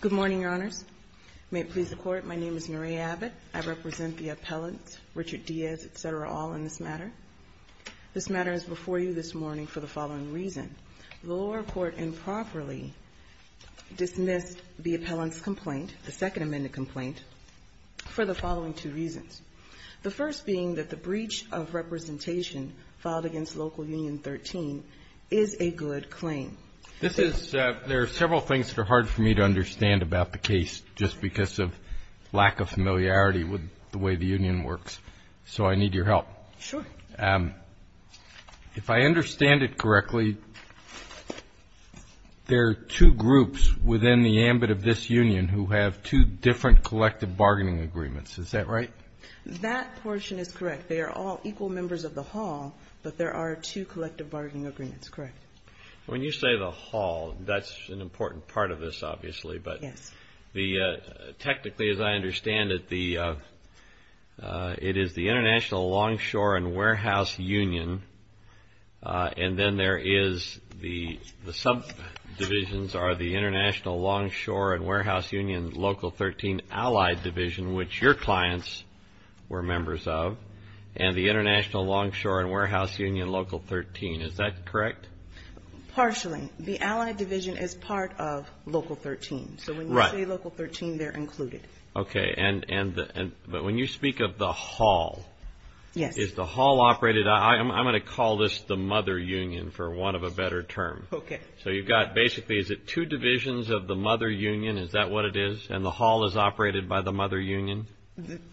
Good morning, Your Honors. May it please the Court, my name is Noree Abbott. I represent the appellants, Richard Diaz, etc., all in this matter. This matter is before you this morning for the following reason. The lower court improperly dismissed the appellant's complaint, the Second Amendment complaint, for the following two reasons. The first being that the breach of representation filed against Local Union 13 is a good claim. This is, there are several things that are hard for me to understand about the case just because of lack of familiarity with the way the union works. So I need your help. Sure. If I understand it correctly, there are two groups within the ambit of this union who have two different collective bargaining agreements, is that right? That portion is correct. They are all equal members of the hall, but there are two collective bargaining agreements, correct? When you say the hall, that's an important part of this, obviously, but technically as I understand it, it is the International Longshore and Warehouse Union, and then there is the Subdivisions are the International Longshore and Warehouse Union Local 13 Allied Division, which your clients were members of, and the International Longshore and Warehouse Union Local 13, is that correct? Partially. The Allied Division is part of Local 13. So when you say Local 13, they're included. Okay. But when you speak of the hall, is the hall operated, I'm going to call this the mother union for want of a better term. Okay. So you've got basically, is it two divisions of the mother union, is that what it is? And the hall is operated by the mother union?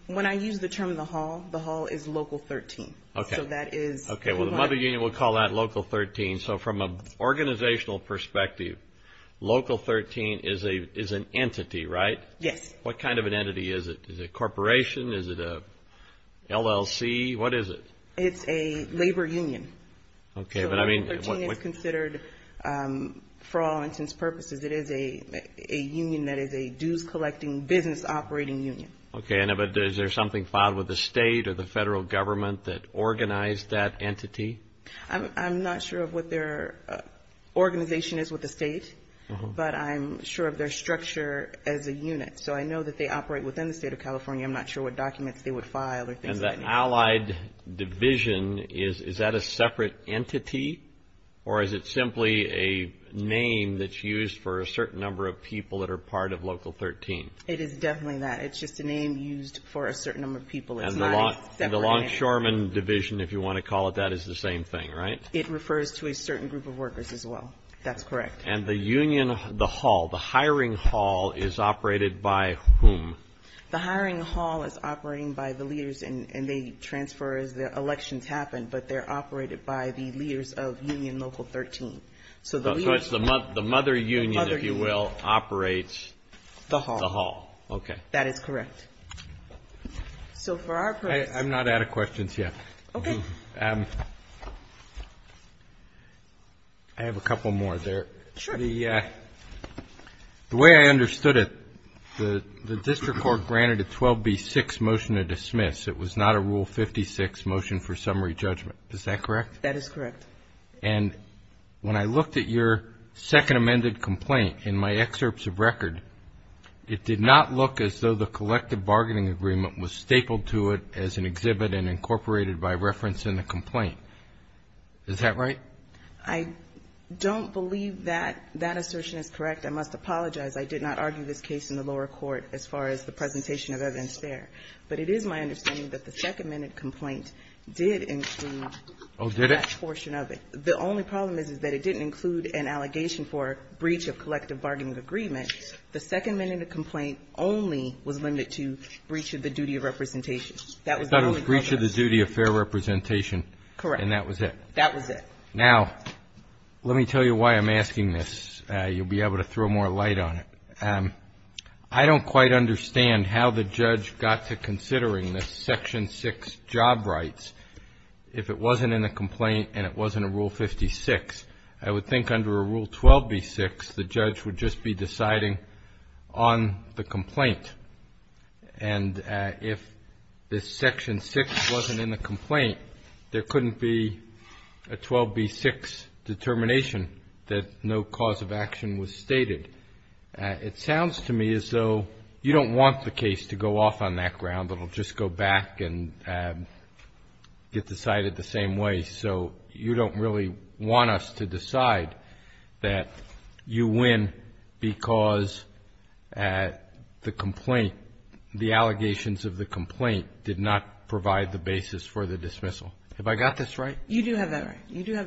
When I use the term the hall, the hall is Local 13. Okay. So that is... Okay. Well, the mother union, we'll call that Local 13. So from an organizational perspective, Local 13 is an entity, right? Yes. What kind of an entity is it? Is it a corporation? Is it a LLC? What is it? It's a labor union. Okay. But I mean... So Local 13 is considered, for all intents and purposes, it is a union that is a dues collecting business operating union. Okay. And is there something filed with the state or the federal government that organized that entity? I'm not sure of what their organization is with the state, but I'm sure of their structure as a unit. So I know that they operate within the state of California. I'm not sure what documents they would file or things like that. And the allied division, is that a separate entity or is it simply a name that's used for a certain number of people that are part of Local 13? It is definitely that. It's just a name used for a certain number of people. It's not a separate entity. And the Longshoremen Division, if you want to call it that, is the same thing, right? It refers to a certain group of workers as well. That's correct. And the union, the hall, the hiring hall is operated by whom? The hiring hall is operating by the leaders and they transfer as the elections happen, but they're operated by the leaders of Union Local 13. So it's the mother union, if you will, operates the hall. The hall. That is correct. So for our purpose... I'm not out of questions yet. Okay. I have a couple more there. Sure. The way I understood it, the district court granted a 12B6 motion to dismiss. It was not a Rule 56 motion for summary judgment. Is that correct? That is correct. And when I looked at your second amended complaint in my excerpts of record, it did not look as though the collective bargaining agreement was stapled to it as an exhibit and incorporated by reference in the complaint. Is that right? I don't believe that that assertion is correct. I must apologize. I did not argue this case in the lower court as far as the presentation of evidence there. But it is my understanding that the second amended complaint did include... Oh, did it? ...that portion of it. The only problem is, is that it didn't include an allegation for breach of collective bargaining agreement. The second amended complaint only was limited to breach of the duty of representation. That was the only... I thought it was breach of the duty of fair representation. Correct. And that was it. Now, let me tell you why I'm asking this. You'll be able to throw more light on it. I don't quite understand how the judge got to considering this Section 6 job rights if it wasn't in the complaint and it wasn't a Rule 56. I would think under a Rule 12B6, the judge would just be deciding on the complaint. And if this Section 6 wasn't in the complaint, there couldn't be a 12B6 determination that no cause of action was stated. It sounds to me as though you don't want the case to go off on that ground. It'll just go back and get decided the same way. So you don't really want us to decide that you win because the complaint, the allegations of the complaint did not provide the basis for the dismissal. Have I got this right? You do have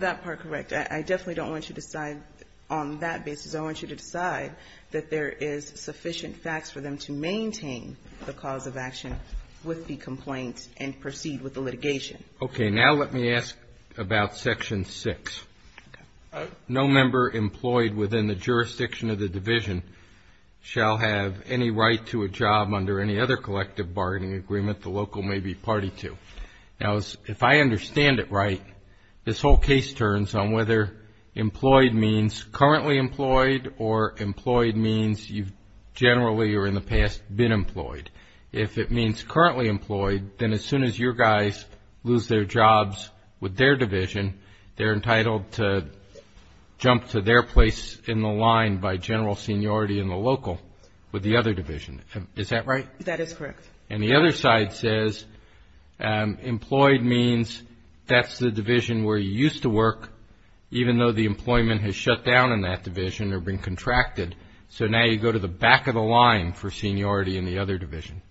that part correct. I definitely don't want you to decide on that basis. I want you to decide that there is sufficient facts for them to maintain the cause of action with the complaint and proceed with the litigation. Okay. Now let me ask about Section 6. No member employed within the jurisdiction of the division shall have any right to a job under any other collective bargaining agreement the local may be party to. Now if I understand it right, this whole case turns on whether employed means currently employed or employed means you've generally or in the past been employed. If it means currently employed, then as soon as your guys lose their general seniority in the local with the other division. Is that right? That is correct. And the other side says employed means that's the division where you used to work even though the employment has shut down in that division or been contracted. So now you go to the back of the line for seniority in the other division.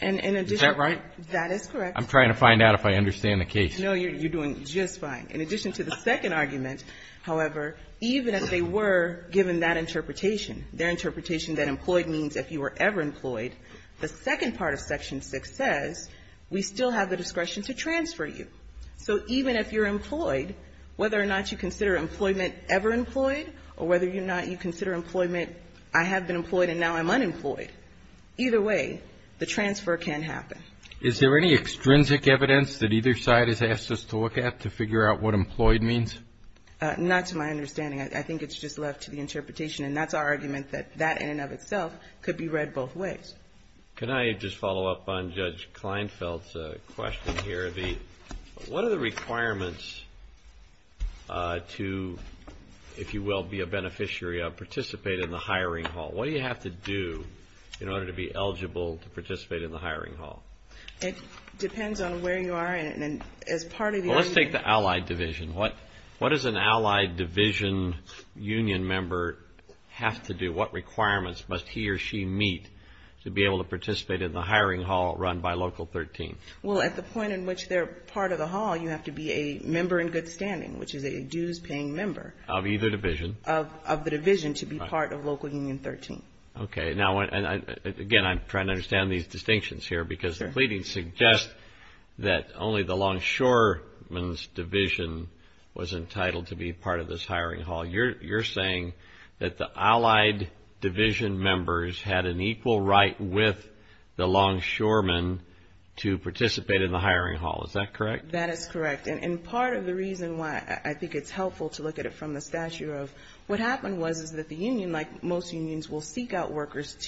Is that right? That is correct. I'm trying to find out if I understand the case. No, you're doing just fine. In addition to the second argument, however, even if they were given that interpretation, their interpretation that employed means if you were ever employed, the second part of Section 6 says we still have the discretion to transfer you. So even if you're employed, whether or not you consider employment ever employed or whether you're not, you consider employment I have been employed and now I'm unemployed, either way, the transfer can happen. Is there any extrinsic evidence that either side has asked us to look at to figure out what employed means? Not to my understanding. I think it's just left to the interpretation and that's our argument that that in and of itself could be read both ways. Can I just follow up on Judge Kleinfeld's question here? What are the requirements to, if you will, be a beneficiary of, participate in the hiring hall? What do you have to do in order to be eligible to participate in the hiring hall? It depends on where you are and as part of the allied division, what does an allied division union member have to do? What requirements must he or she meet to be able to participate in the hiring hall run by Local 13? Well, at the point in which they're part of the hall, you have to be a member in good standing, which is a dues-paying member. Of either division. Of the division to be part of Local Union 13. Okay. Now, again, I'm trying to understand these distinctions here because the pleadings suggest that only the longshoreman's division was entitled to be part of this hiring hall. You're saying that the allied division members had an equal right with the longshoreman to participate in the hiring hall. Is that correct? That is correct. And part of the reason why I think it's helpful to look at it from the stature of what happened was that the union, like most unions, will seek out workers to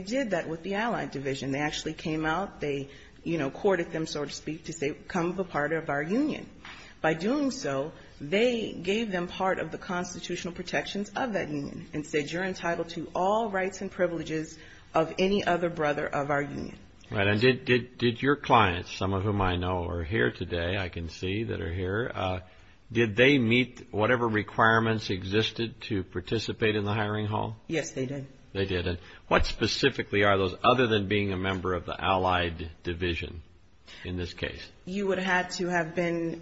set with the allied division. They actually came out, they courted them, so to speak, to become a part of our union. By doing so, they gave them part of the constitutional protections of that union and said, you're entitled to all rights and privileges of any other brother of our union. Right. And did your clients, some of whom I know are here today, I can see that are here, did they meet whatever requirements existed to participate in the hiring hall? Yes, they did. They did. And what specifically are those other than being a member of the allied division in this case? You would have to have been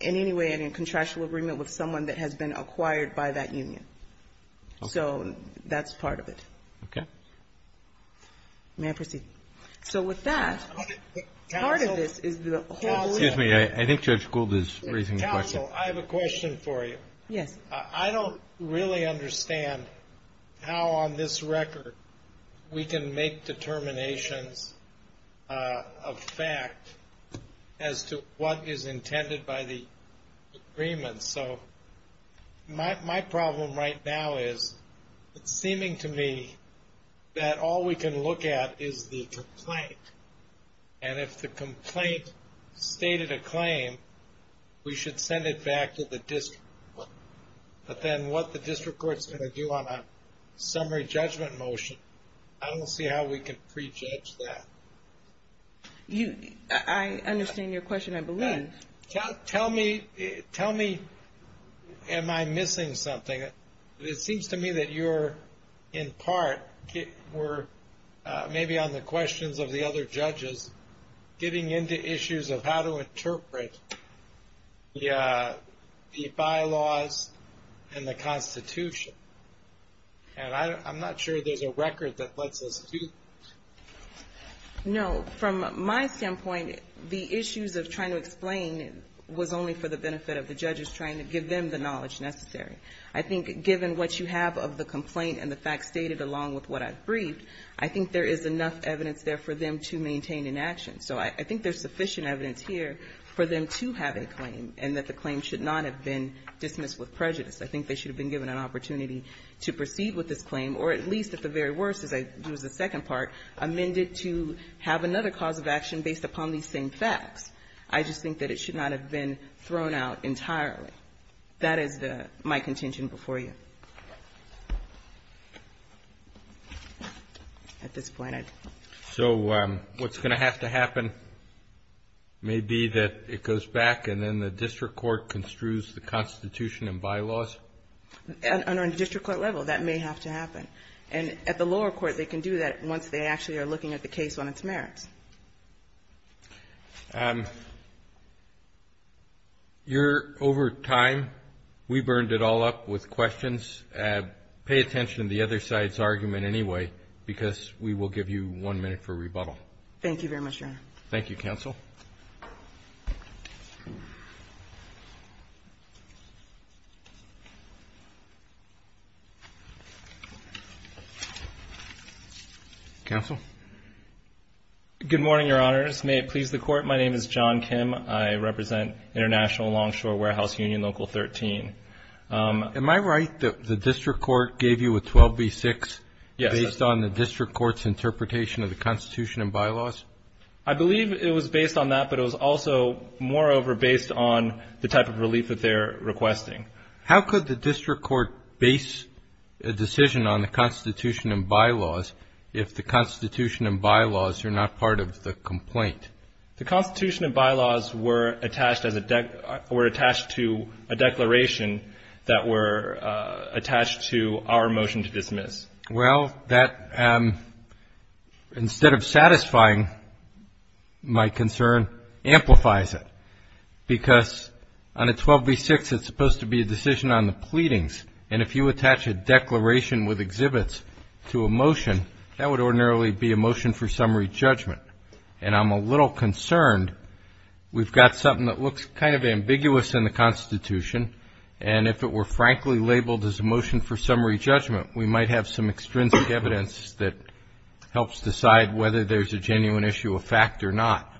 in any way in a contractual agreement with someone that has been acquired by that union. So that's part of it. Okay. May I proceed? So with that, part of this is the whole... Excuse me, I think Judge Gould is raising a question. Counsel, I have a question for you. Yes. I don't really understand how on this record we can make determinations of fact as to what is intended by the agreement. So my problem right now is, it's seeming to me that all we can look at is the complaint. And if the complaint stated a claim, we should send it But then what the district court's going to do on a summary judgment motion, I don't see how we can prejudge that. I understand your question, I believe. Tell me, am I missing something? It seems to me that you're in part, were maybe on the the Constitution. And I'm not sure there's a record that lets us do that. No, from my standpoint, the issues of trying to explain was only for the benefit of the judges trying to give them the knowledge necessary. I think given what you have of the complaint and the facts stated along with what I've briefed, I think there is enough evidence there for them to maintain in action. So I think there's sufficient evidence here for them to have a claim, and that the claim should not have been dismissed with prejudice. I think they should have been given an opportunity to proceed with this claim, or at least, at the very worst, as I do as the second part, amend it to have another cause of action based upon these same facts. I just think that it should not have been thrown out entirely. That is my contention before you at this point. So what's going to have to happen may be that it goes back and then the district court construes the Constitution and bylaws? Under a district court level, that may have to happen. And at the lower court, they can do that once they actually are looking at the case on its merits. Over time, we burned it all up with questions. Pay attention to the other side's argument anyway, because we will give you one minute for rebuttal. Thank you very much, Your Honor. Good morning, Your Honors. May it please the Court, my name is John Kim. I represent International Longshore Warehouse Union Local 13. Am I right that the district court gave you a 12b-6 based on the district court's interpretation of the Constitution and bylaws? I believe it was based on that, but it was also, moreover, based on the type of relief that they're requesting. How could the district court base a decision on the Constitution and bylaws if the Constitution and bylaws are not part of the complaint? The Constitution and bylaws were attached to a declaration that were attached to our motion to dismiss. Well, that, instead of satisfying my concern, amplifies it. Because on a 12b-6, it's supposed to be a decision on the pleadings. And if you attach a declaration with exhibits to a motion, that would ordinarily be a motion for summary judgment. And I'm a little concerned we've got something that looks kind of ambiguous in the Constitution, and if it were frankly labeled as a motion for summary judgment, we might have some extrinsic evidence that helps decide whether there's a genuine issue of fact or not.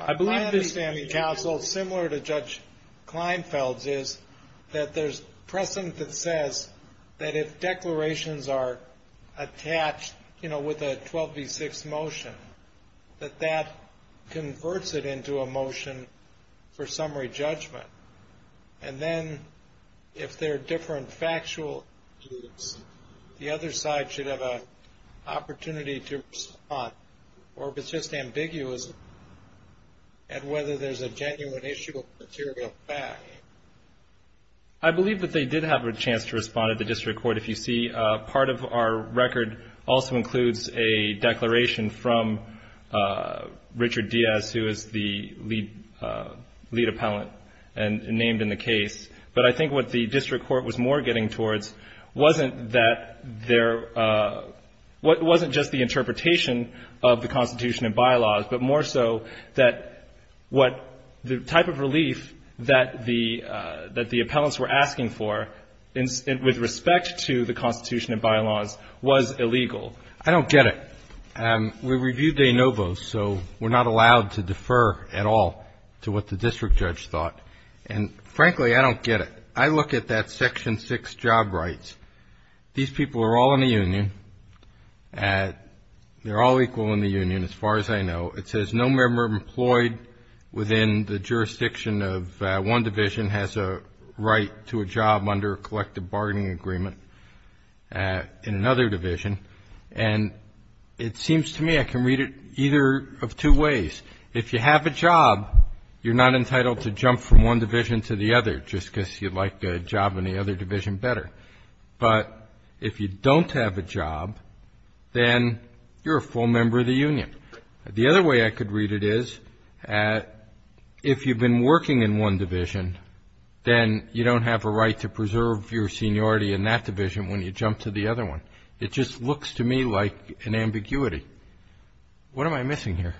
I believe this, counsel, similar to Judge Kleinfeld's, is that there's precedent that says that if declarations are attached, you know, with a 12b-6 motion, that that converts it into a motion for summary judgment. And then if there are different factual issues, the other side should have an opportunity to respond, or if it's just ambiguous at whether there's a genuine issue of material fact. I believe that they did have a chance to respond at the district court. If you see, part of our record also includes a declaration from Richard Diaz, who is the lead appellant named in the case. But I think what the district court was more getting towards wasn't just the interpretation of the Constitution and bylaws, but more so that the type of relief that the appellants were asking for with respect to the Constitution and bylaws was illegal. I don't get it. We reviewed de novo, so we're not allowed to defer at all to what the district judge thought. And frankly, I don't get it. I look at that Section 6 job rights. These people are all in the union. They're all equal in the union, as far as I know. It says no member employed within the jurisdiction of one division has a right to a job under a collective bargaining agreement in another division. And it seems to me I can read it either of two ways. If you have a job, you're not entitled to jump from one division to the other, just because you'd like the job in the other division better. But if you don't have a job, then you're a full member of the union. The other way I could read it is if you've been working in one division, then you don't have a right to preserve your seniority in that division when you jump to the other one. It just looks to me like an ambiguity. What am I missing here?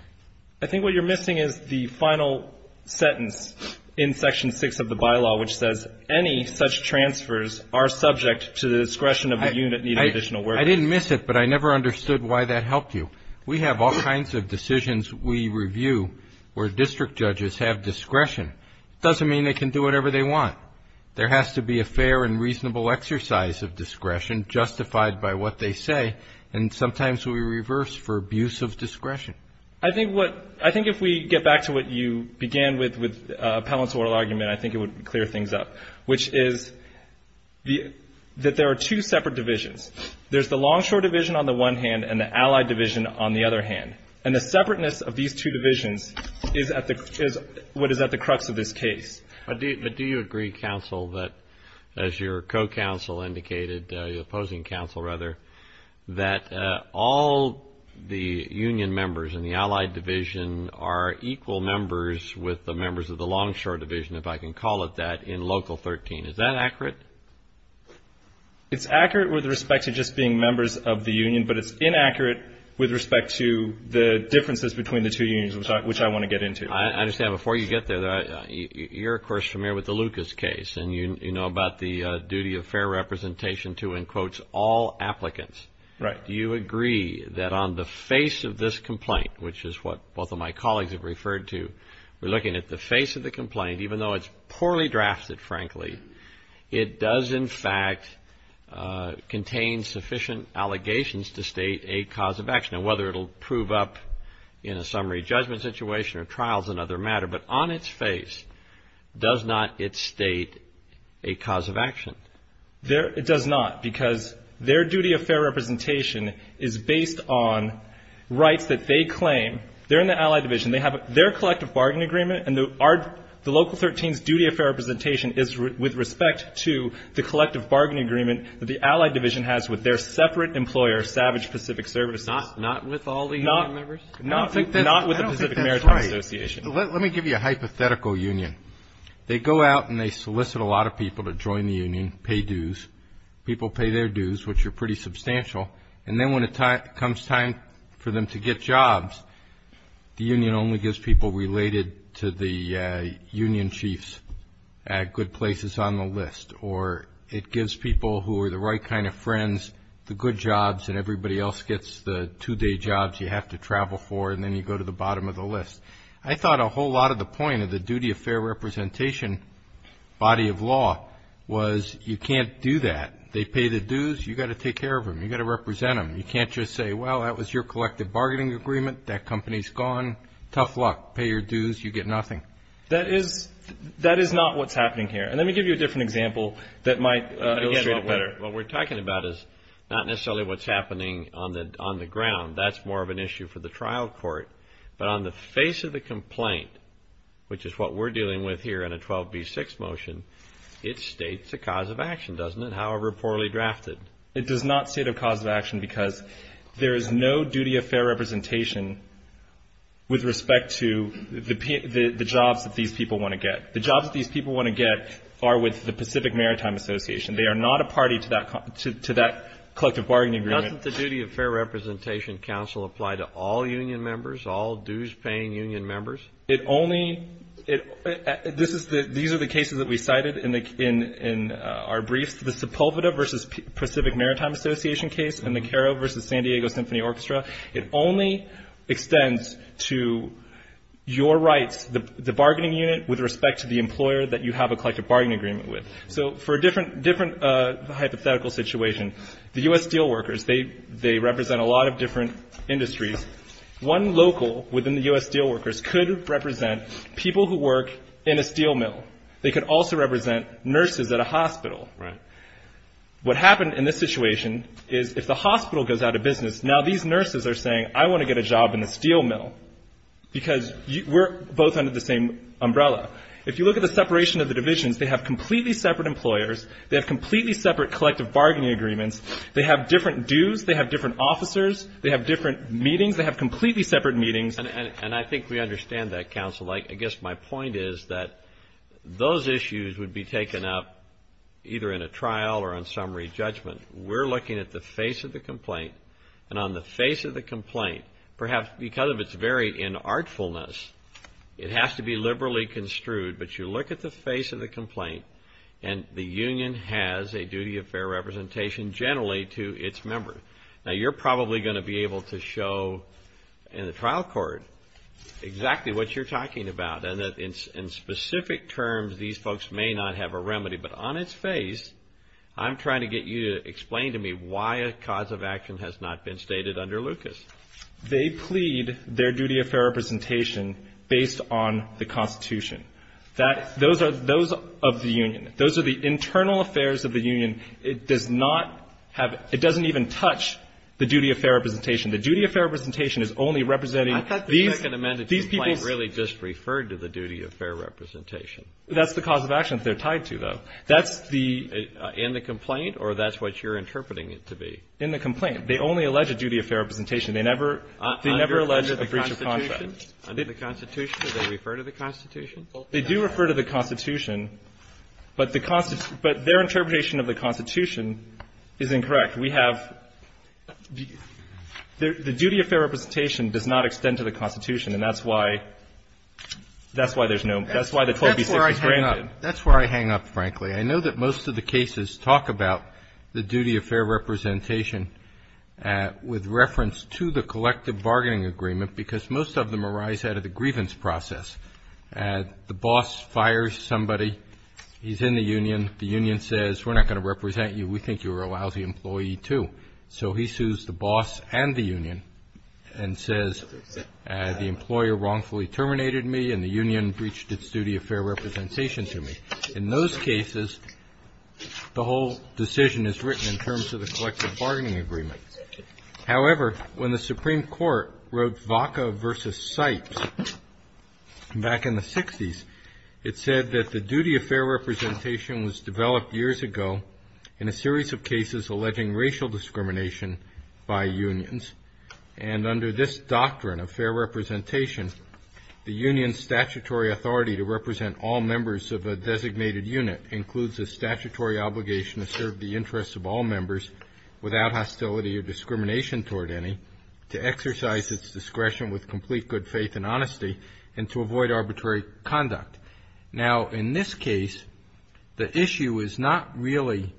I think what you're missing is the final sentence in Section 6 of the bylaw, which says any such transfers are subject to the discretion of the unit needing additional work. I didn't miss it, but I never understood why that helped you. We have all kinds of decisions we review where district judges have discretion. It doesn't mean they can do whatever they want. There has to be a fair and reasonable exercise of discretion justified by what they say, and sometimes we reverse for abuse of discretion. I think if we get back to what you began with, with Appellant's oral argument, I think it would clear things up, which is that there are two separate divisions. There's the Longshore Division on the one hand and the Allied Division on the other hand. And the separateness of these two divisions is what is at the crux of this case. But do you agree, counsel, that as your co-counsel indicated, your opposing counsel rather, that all the union members in the Allied Division are equal members with the members of the Union? Is that accurate? It's accurate with respect to just being members of the Union, but it's inaccurate with respect to the differences between the two unions, which I want to get into. I understand. Before you get there, you're, of course, familiar with the Lucas case, and you know about the duty of fair representation to, in quotes, all applicants. Do you agree that on the face of this complaint, which is what both of my colleagues have referred to, we're looking at the face of the complaint, even though it's poorly drafted, frankly, it does, in fact, contain sufficient allegations to state a cause of action? And whether it'll prove up in a summary judgment situation or trials, another matter. But on its face, does not it state a cause of action? It does not, because their duty of fair representation is based on rights that they claim. They're in the Allied Division. They have their collective bargain agreement, and the Local 13's duty of fair representation is with respect to the collective bargain agreement that the Allied Division has with their separate employer, Savage Pacific Services. Not with all the union members? Not with the Pacific Maritime Association. I don't think that's right. Let me give you a hypothetical union. They go out and they solicit a lot of people to join the union, pay dues. People pay their dues, which are pretty substantial. And then when it comes time for them to get jobs, the union only gives people related to the union chiefs at good places on the list. Or it gives people who are the right kind of friends the good jobs, and everybody else gets the two-day jobs you have to travel for, and then you go to the bottom of the list. I thought a whole lot of the point of the duty of fair representation body of law was you can't do that. They pay the dues. You've got to take care of them. You've got to represent them. You can't just say, well, that was your collective bargaining agreement. That company's gone. Tough luck. Pay your dues. You get nothing. That is not what's happening here. And let me give you a different example that might illustrate it better. What we're talking about is not necessarily what's happening on the ground. That's more of an issue for the trial court. But on the face of the complaint, which is what we're dealing with here in a 12B6 motion, it states a cause of action, doesn't it? However poorly drafted. It does not state a cause of action because there is no duty of fair representation with respect to the jobs that these people want to get. The jobs that these people want to get are with the Pacific Maritime Association. They are not a party to that collective bargaining agreement. Doesn't the duty of fair representation council apply to all union members, all dues-paying union members? It only, this is the, these are the cases that we cited in our briefs. The Sepulveda versus Pacific Maritime Association case and the Cairo versus San Diego Symphony Orchestra, it only extends to your rights, the bargaining unit, with respect to the employer that you have a collective bargaining agreement with. So for a different hypothetical situation, the U.S. steel workers, they represent a lot of different industries. One local within the U.S. steel workers could represent people who work in a steel mill. They could also represent nurses at a hospital. What happened in this situation is if the hospital goes out of business, now these nurses are saying, I want to get a job in a steel mill because we're both under the same umbrella. If you look at the separation of the divisions, they have completely separate employers, they have completely separate collective bargaining agreements, they have different dues, they have different meetings, they have completely separate meetings. And I think we understand that, counsel. I guess my point is that those issues would be taken up either in a trial or on summary judgment. We're looking at the face of the complaint, and on the face of the complaint, perhaps because of its very inartfulness, it has to be liberally construed, but you look at the face of the complaint, and the union has a duty of fair representation generally to its members. Now you're probably going to be able to show in the trial court exactly what you're talking about, and in specific terms these folks may not have a remedy, but on its face, I'm trying to get you to explain to me why a cause of action has not been stated under Lucas. They plead their duty of fair representation based on the Constitution. Those of the union, those of the internal affairs of the union, it does not have – it doesn't even touch the duty of fair representation. The duty of fair representation is only representing I thought the Second Amendment complaint really just referred to the duty of fair representation. That's the cause of action that they're tied to, though. That's the – In the complaint, or that's what you're interpreting it to be? In the complaint. They only allege a duty of fair representation. They never – they never allege a breach of contract. Under the Constitution? Under the Constitution, do they refer to the Constitution? They do refer to the Constitution, but the – but their interpretation of the Constitution is incorrect. We have – the duty of fair representation does not extend to the Constitution, and that's why – that's why there's no – that's why the 12B6 was granted. That's where I hang up. That's where I hang up, frankly. I know that most of the cases talk about the duty of fair representation with reference to the collective bargaining agreement because most of them arise out of the grievance process. The boss fires somebody. He's in the union. The union says, we're not going to represent you. We think you're a lousy employee, too. So he sues the boss and the union and says, the employer wrongfully terminated me and the union breached its duty of fair representation to me. In those cases, the whole decision is written in terms of the collective bargaining agreement. However, when the Supreme Court wrote Vaca v. Sipes back in the 60s, it said that the duty of fair representation was developed years ago in a series of cases alleging racial discrimination by unions, and under this doctrine of fair representation, the union's statutory authority to represent all members of a designated unit includes a statutory obligation to serve the interests of all members without hostility or discrimination toward any, to exercise its discretion with complete good faith and honesty, and to avoid arbitrary conduct. Now, in this case, the issue is not really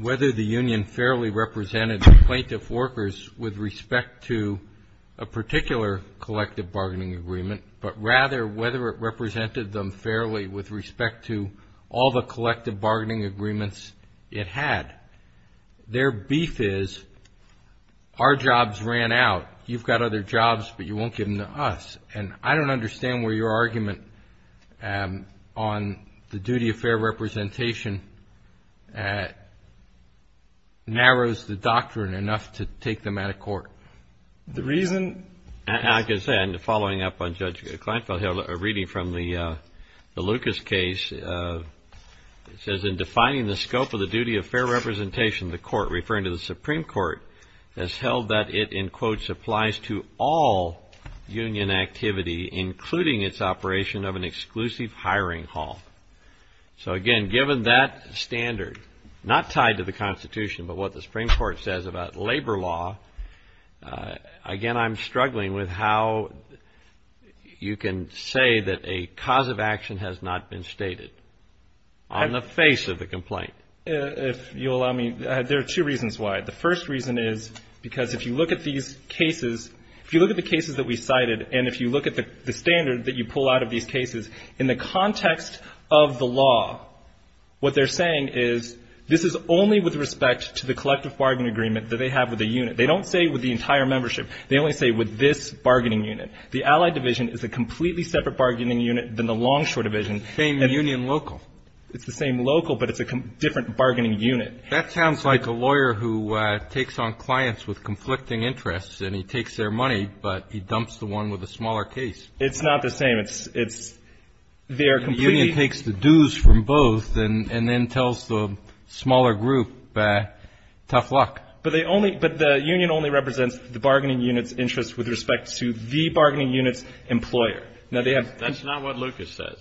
whether the union fairly represented the plaintiff workers with respect to a particular collective bargaining agreement, but rather whether it had. Their beef is, our jobs ran out. You've got other jobs, but you won't give them to us. And I don't understand where your argument on the duty of fair representation narrows the doctrine enough to take them out of court. I can say, following up on Judge Kleinfeld, a reading from the Lucas case, it says, in defining the scope of the duty of fair representation, the court, referring to the Supreme Court, has held that it, in quotes, applies to all union activity, including its operation of an exclusive hiring hall. So again, given that standard, not tied to the Constitution, but what the Supreme Court says about labor law, again, I'm struggling with how you can say that a cause of action has not been stated. On the face of the complaint. If you'll allow me, there are two reasons why. The first reason is because if you look at these cases, if you look at the cases that we cited, and if you look at the standard that you pull out of these cases, in the context of the law, what they're saying is, this is only with respect to the collective bargaining agreement that they have with the unit. They don't say with the entire membership. They only say with this bargaining unit. The Allied division is a completely separate bargaining unit than the Longshore division. It's the same local, but it's a different bargaining unit. That sounds like a lawyer who takes on clients with conflicting interests, and he takes their money, but he dumps the one with a smaller case. It's not the same. It's their complete union takes the dues from both, and then tells the smaller group, tough luck. But the union only represents the bargaining unit's interest with respect to the bargaining unit's employer. That's not what Lucas says.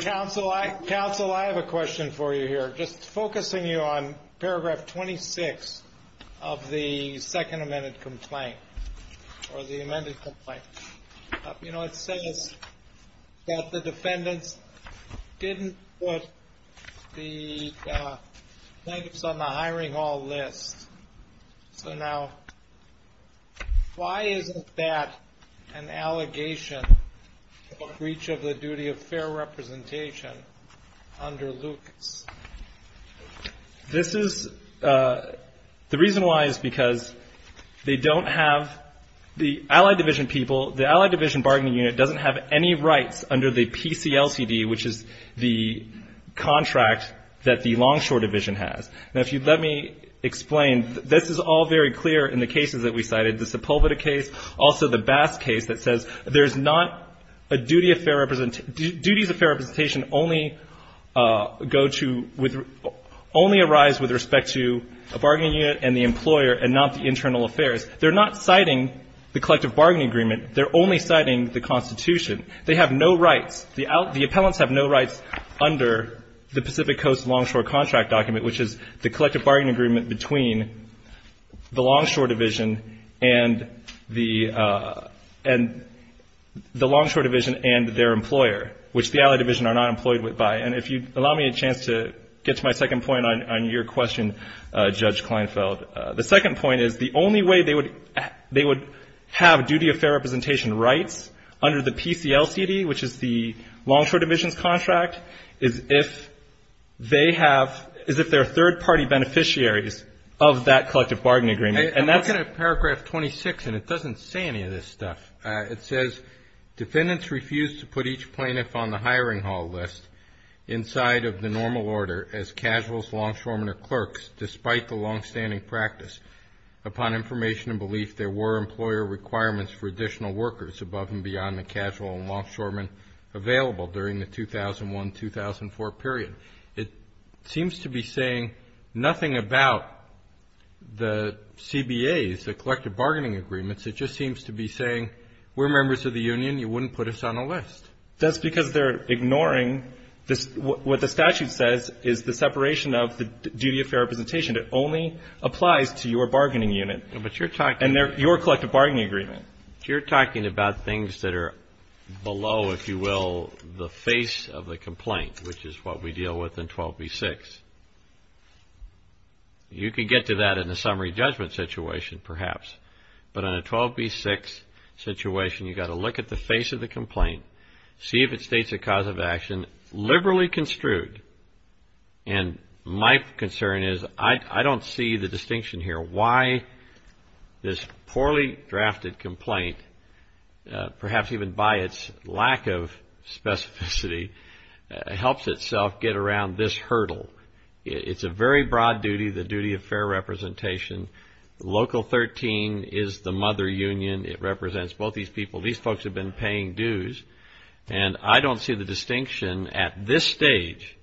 Counsel, I have a question for you here, just focusing you on paragraph 26 of the second amended complaint. It says that the defendants didn't put the plaintiffs on the hiring hall list. So now, why isn't that an allegation of breach of the duty of fair representation under Lucas? The reason why is because they don't have, the Allied division people, the Allied division bargaining unit doesn't have any rights under the PCLCD, which is the contract that the Longshore division has. Now, if you'd let me explain, this is all very clear in the cases that we cited, the Sepulveda case, also the Bass case that says there's not a duty of fair representation, duties of fair representation only go to, only arise with respect to a bargaining unit and the employer, and not the internal affairs. They're not citing the collective bargaining agreement. They're only citing the Constitution. They have no rights, the appellants have no rights under the Pacific Coast Longshore contract document, which is the collective bargaining agreement between the Longshore division and the Longshore division and their employer, which the Allied division are not employed by. And if you'd allow me a chance to get to my second point on your question, Judge Kleinfeld. The second point is the only way they would have duty of fair representation rights under the PCLCD, which is the Longshore division's contract, is if they have, is if they're third-party beneficiaries of that collective bargaining agreement. And that's... I'm looking at paragraph 26 and it doesn't say any of this stuff. It says, defendants refuse to put each plaintiff on the hiring hall list inside of the normal order as casuals, longshoremen, or clerks, despite the longstanding practice. Upon information and belief, there were employer requirements for additional workers above and beyond the casual and longshoremen available during the 2001-2004 period. It seems to be saying nothing about the CBAs, the collective bargaining agreements. It just seems to be saying, we're members of the union, you wouldn't put us on a list. It's ignoring, what the statute says is the separation of the duty of fair representation that only applies to your bargaining unit and your collective bargaining agreement. You're talking about things that are below, if you will, the face of the complaint, which is what we deal with in 12b-6. You could get to that in a summary judgment situation, perhaps. But in a 12b-6 situation, you've got to look at the face of the complaint, see if it states a cause of action, liberally construed, and my concern is, I don't see the distinction here. Why this poorly drafted complaint, perhaps even by its lack of specificity, helps itself get around this hurdle. It's a very broad duty, the duty of fair representation, Local 13 is the mother union, it represents both these people. These folks have been paying dues, and I don't see the distinction at this stage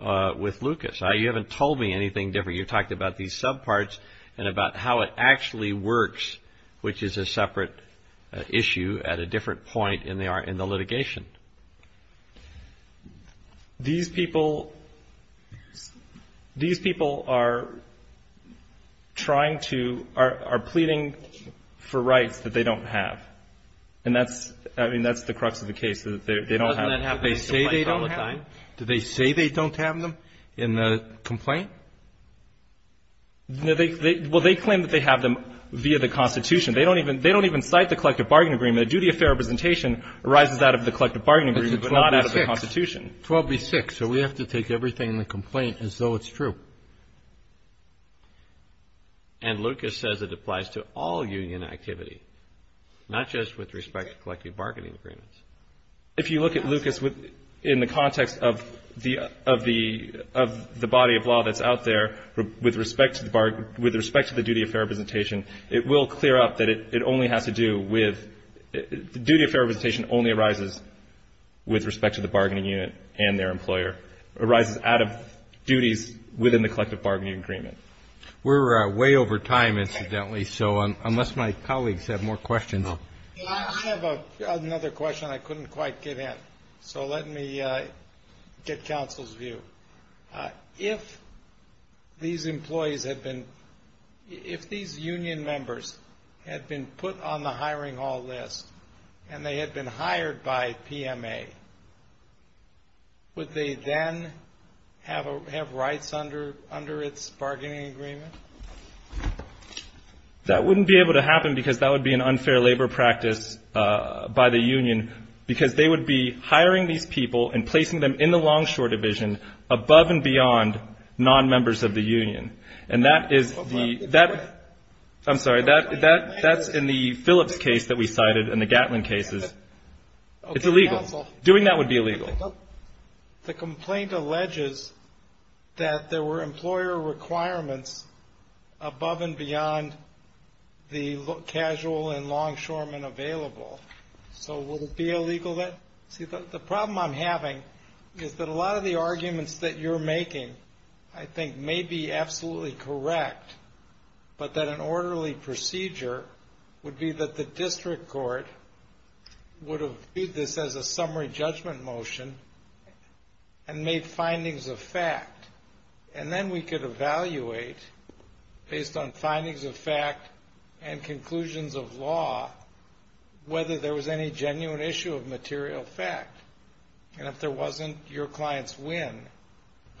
with Lucas. You haven't told me anything different. You talked about these subparts and about how it actually works, which is a separate issue at a different point in the litigation. These people, these people are trying to, are pleading for rights that they don't have. And that's, I mean, that's the crux of the case, that they don't have them. They say they don't have them? Do they say they don't have them in the complaint? No, they, well, they claim that they have them via the Constitution. They don't even, they don't even cite the Collective Bargaining Agreement, the duty of fair representation arises out of the Collective Bargaining Agreement, but not out of the Constitution. 12B-6, so we have to take everything in the complaint as though it's true. And Lucas says it applies to all union activity, not just with respect to Collective Bargaining Agreements. If you look at Lucas in the context of the, of the, of the body of law that's out there, it's the same thing. If you look at Lucas out there with respect to the, with respect to the duty of fair representation, it will clear up that it only has to do with, the duty of fair representation only arises with respect to the bargaining unit and their employer, arises out of duties within the Collective Bargaining Agreement. We're way over time, incidentally, so unless my colleagues have more questions. I have another question I couldn't quite get in, so let me get counsel's view. If these employees had been, if these union members had been put on the hiring hall list, and they had been hired by PMA, would they then have, have rights under, under its bargaining agreement? That wouldn't be able to happen because that would be an unfair labor practice by the union, because they would be hiring these people and placing them in the Longshore Division, above and beyond non-members of the union. And that is the, that, I'm sorry, that, that's in the Phillips case that we cited and the Gatlin cases. It's illegal, doing that would be illegal. The complaint alleges that there were employer requirements above and beyond the casual and longshoremen available, so would it be illegal then? See, the problem I'm having is that a lot of the arguments that you're making, I think, may be absolutely correct, but that an orderly procedure would be that the district court would have viewed this as a summary judgment motion and made findings of fact. And then we could evaluate, based on findings of fact and conclusions of law, whether there was any genuine issue of material facts. And if there wasn't, your clients win.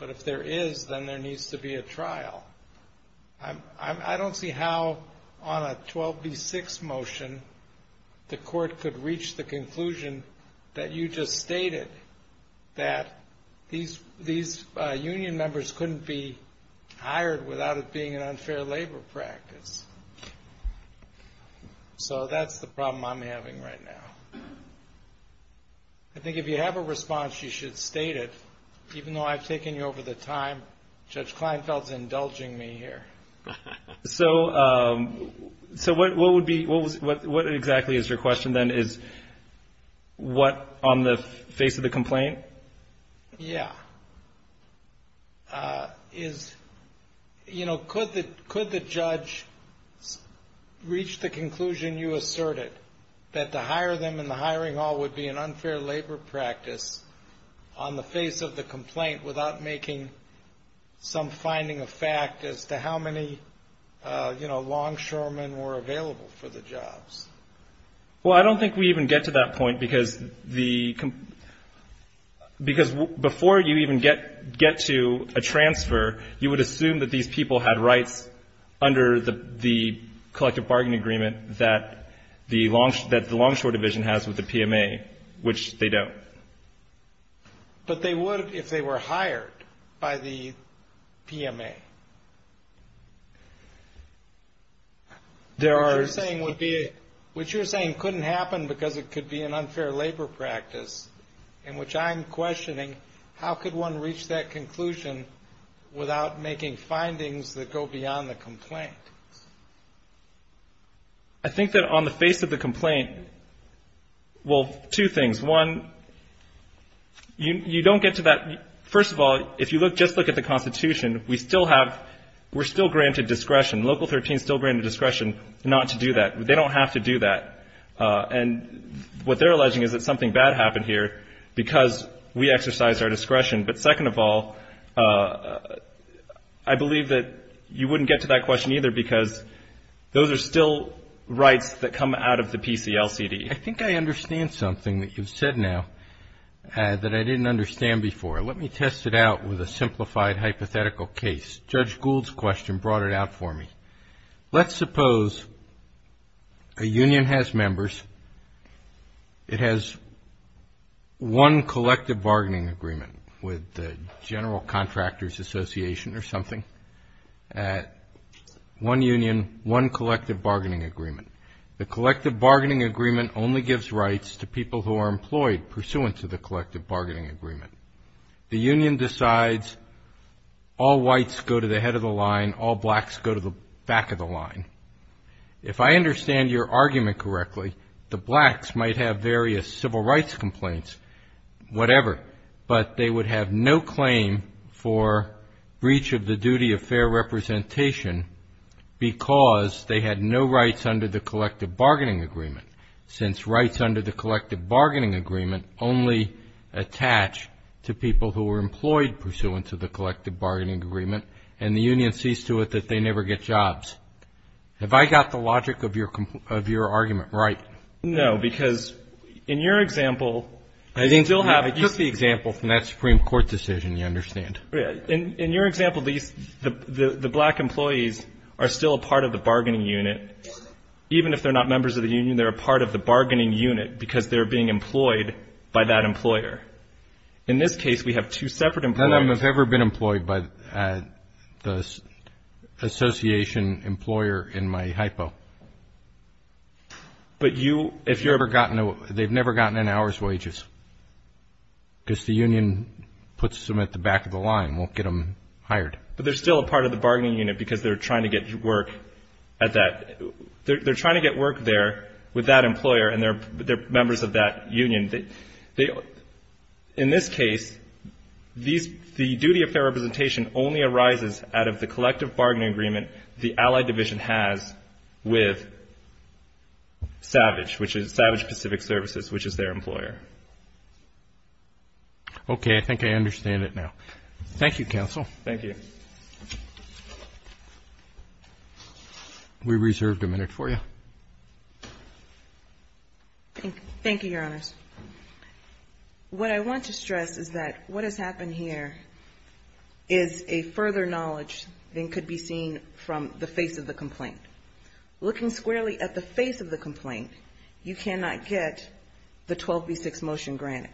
But if there is, then there needs to be a trial. I'm, I'm, I don't see how on a 12B6 motion the court could reach the conclusion that you just stated, that these, these union members couldn't be hired without it being an unfair labor practice. So that's the problem I'm having right now. I think if you have a response, you should state it, even though I've taken you over the time. Judge Kleinfeld's indulging me here. So, so what would be, what was, what exactly is your question then? Is what on the face of the complaint? Yeah. Is, you know, could the, could the judge reach the conclusion you asserted that to hire them in the hiring hall would be an unfair labor practice on the face of the complaint without making some finding of fact as to how many, you know, longshoremen were available for the jobs? Well, I don't think we even get to that point because the, because before you even get, get to a transfer, you would assume that these people had rights under the, the collective bargain agreement that the longshore, that the longshore division has with the PMA, which they don't. But they would if they were hired by the PMA. There are... Which you're saying wouldn't be, which you're saying couldn't happen because it could be an unfair labor practice, in which I'm questioning, how could one reach that conclusion without making findings that go beyond the complaint? I think that on the face of the complaint, well, two things. One, you don't get to that. First of all, if you look, just look at the Constitution, we still have, we're still granted discretion. Local 13 still granted discretion not to do that. They don't have to do that. And what they're alleging is that something bad happened here because we exercised our discretion. But second of all, I believe that you wouldn't get to that question either because those are still rights that come out of the PCLCD. I think I understand something that you've said now that I didn't understand before. Let me test it out with a simplified hypothetical case. Judge Gould's question brought it out for me. Let's suppose a union has members. It has one collective bargaining agreement with the General Contractors Association or something. One union, one collective bargaining agreement. The collective bargaining agreement only gives rights to people who are employed pursuant to the collective bargaining agreement. The union decides all whites go to the head of the line, all blacks go to the back of the line. If I understand your argument correctly, the blacks might have various civil rights complaints, whatever, but they would have no claim for breach of the duty of fair representation because they had no rights under the collective bargaining agreement, since rights under the collective bargaining agreement only attach to people who are employed pursuant to the collective bargaining agreement and the union sees to it that they never get jobs. Have I got the logic of your argument right? No, because in your example, you still have it. I took the example from that Supreme Court decision, you understand. In your example, the black employees are still a part of the bargaining unit. Even if they're not members of the union, they're a part of the bargaining unit because they're being employed by that employer. In this case, we have two separate employers. None of them have ever been employed by the association employer in my hypo. But you, if you've ever gotten, they've never gotten an hour's wages, because the union puts them at the back of the line, won't get them hired. But they're still a part of the bargaining unit because they're trying to get work at that, they're trying to get work there with that employer and they're members of that union. In this case, the duty of fair representation only arises out of the collective bargaining agreement the allied division has with Savage, which is Savage Pacific Services, which is their employer. Okay, I think I understand it now. Thank you, counsel. Thank you. We reserved a minute for you. Thank you, Your Honors. What I want to stress is that what has happened here is a further knowledge than could be seen from the face of the complaint. Looking squarely at the face of the complaint, you cannot get the 12B6 motion granted.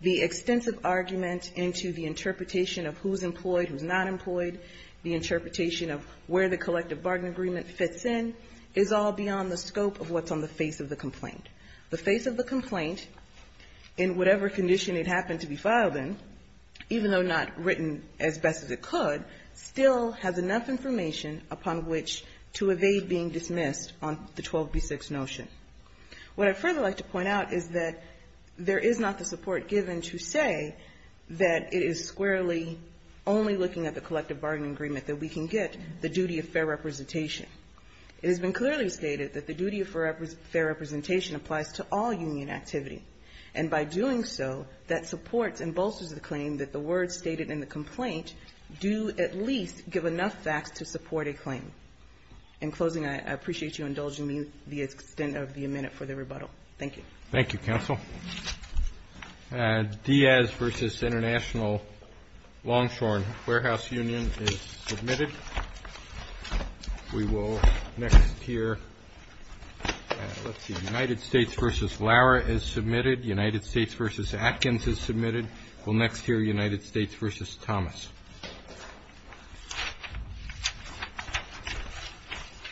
The extensive argument into the interpretation of who's employed, who's not employed, the interpretation of where the collective bargaining agreement fits in, is all beyond the scope of what's on the face of the complaint. The face of the complaint, in whatever condition it happened to be filed in, even though not written as best as it could, still has enough information upon which to evade being dismissed on the 12B6 notion. What I'd further like to point out is that there is not the support given to say that it is squarely only looking at the collective bargaining agreement that we can get the duty of fair representation. It has been clearly stated that the duty of fair representation applies to all union activity, and by doing so, that supports and bolsters the claim that the words stated in the complaint do at least give enough facts to support a claim. In closing, I appreciate you indulging me the extent of the minute for the rebuttal. Thank you. Thank you, Counsel. Diaz v. International Longshorn Warehouse Union is submitted. United States v. Lara is submitted. United States v. Atkins is submitted. Thank you.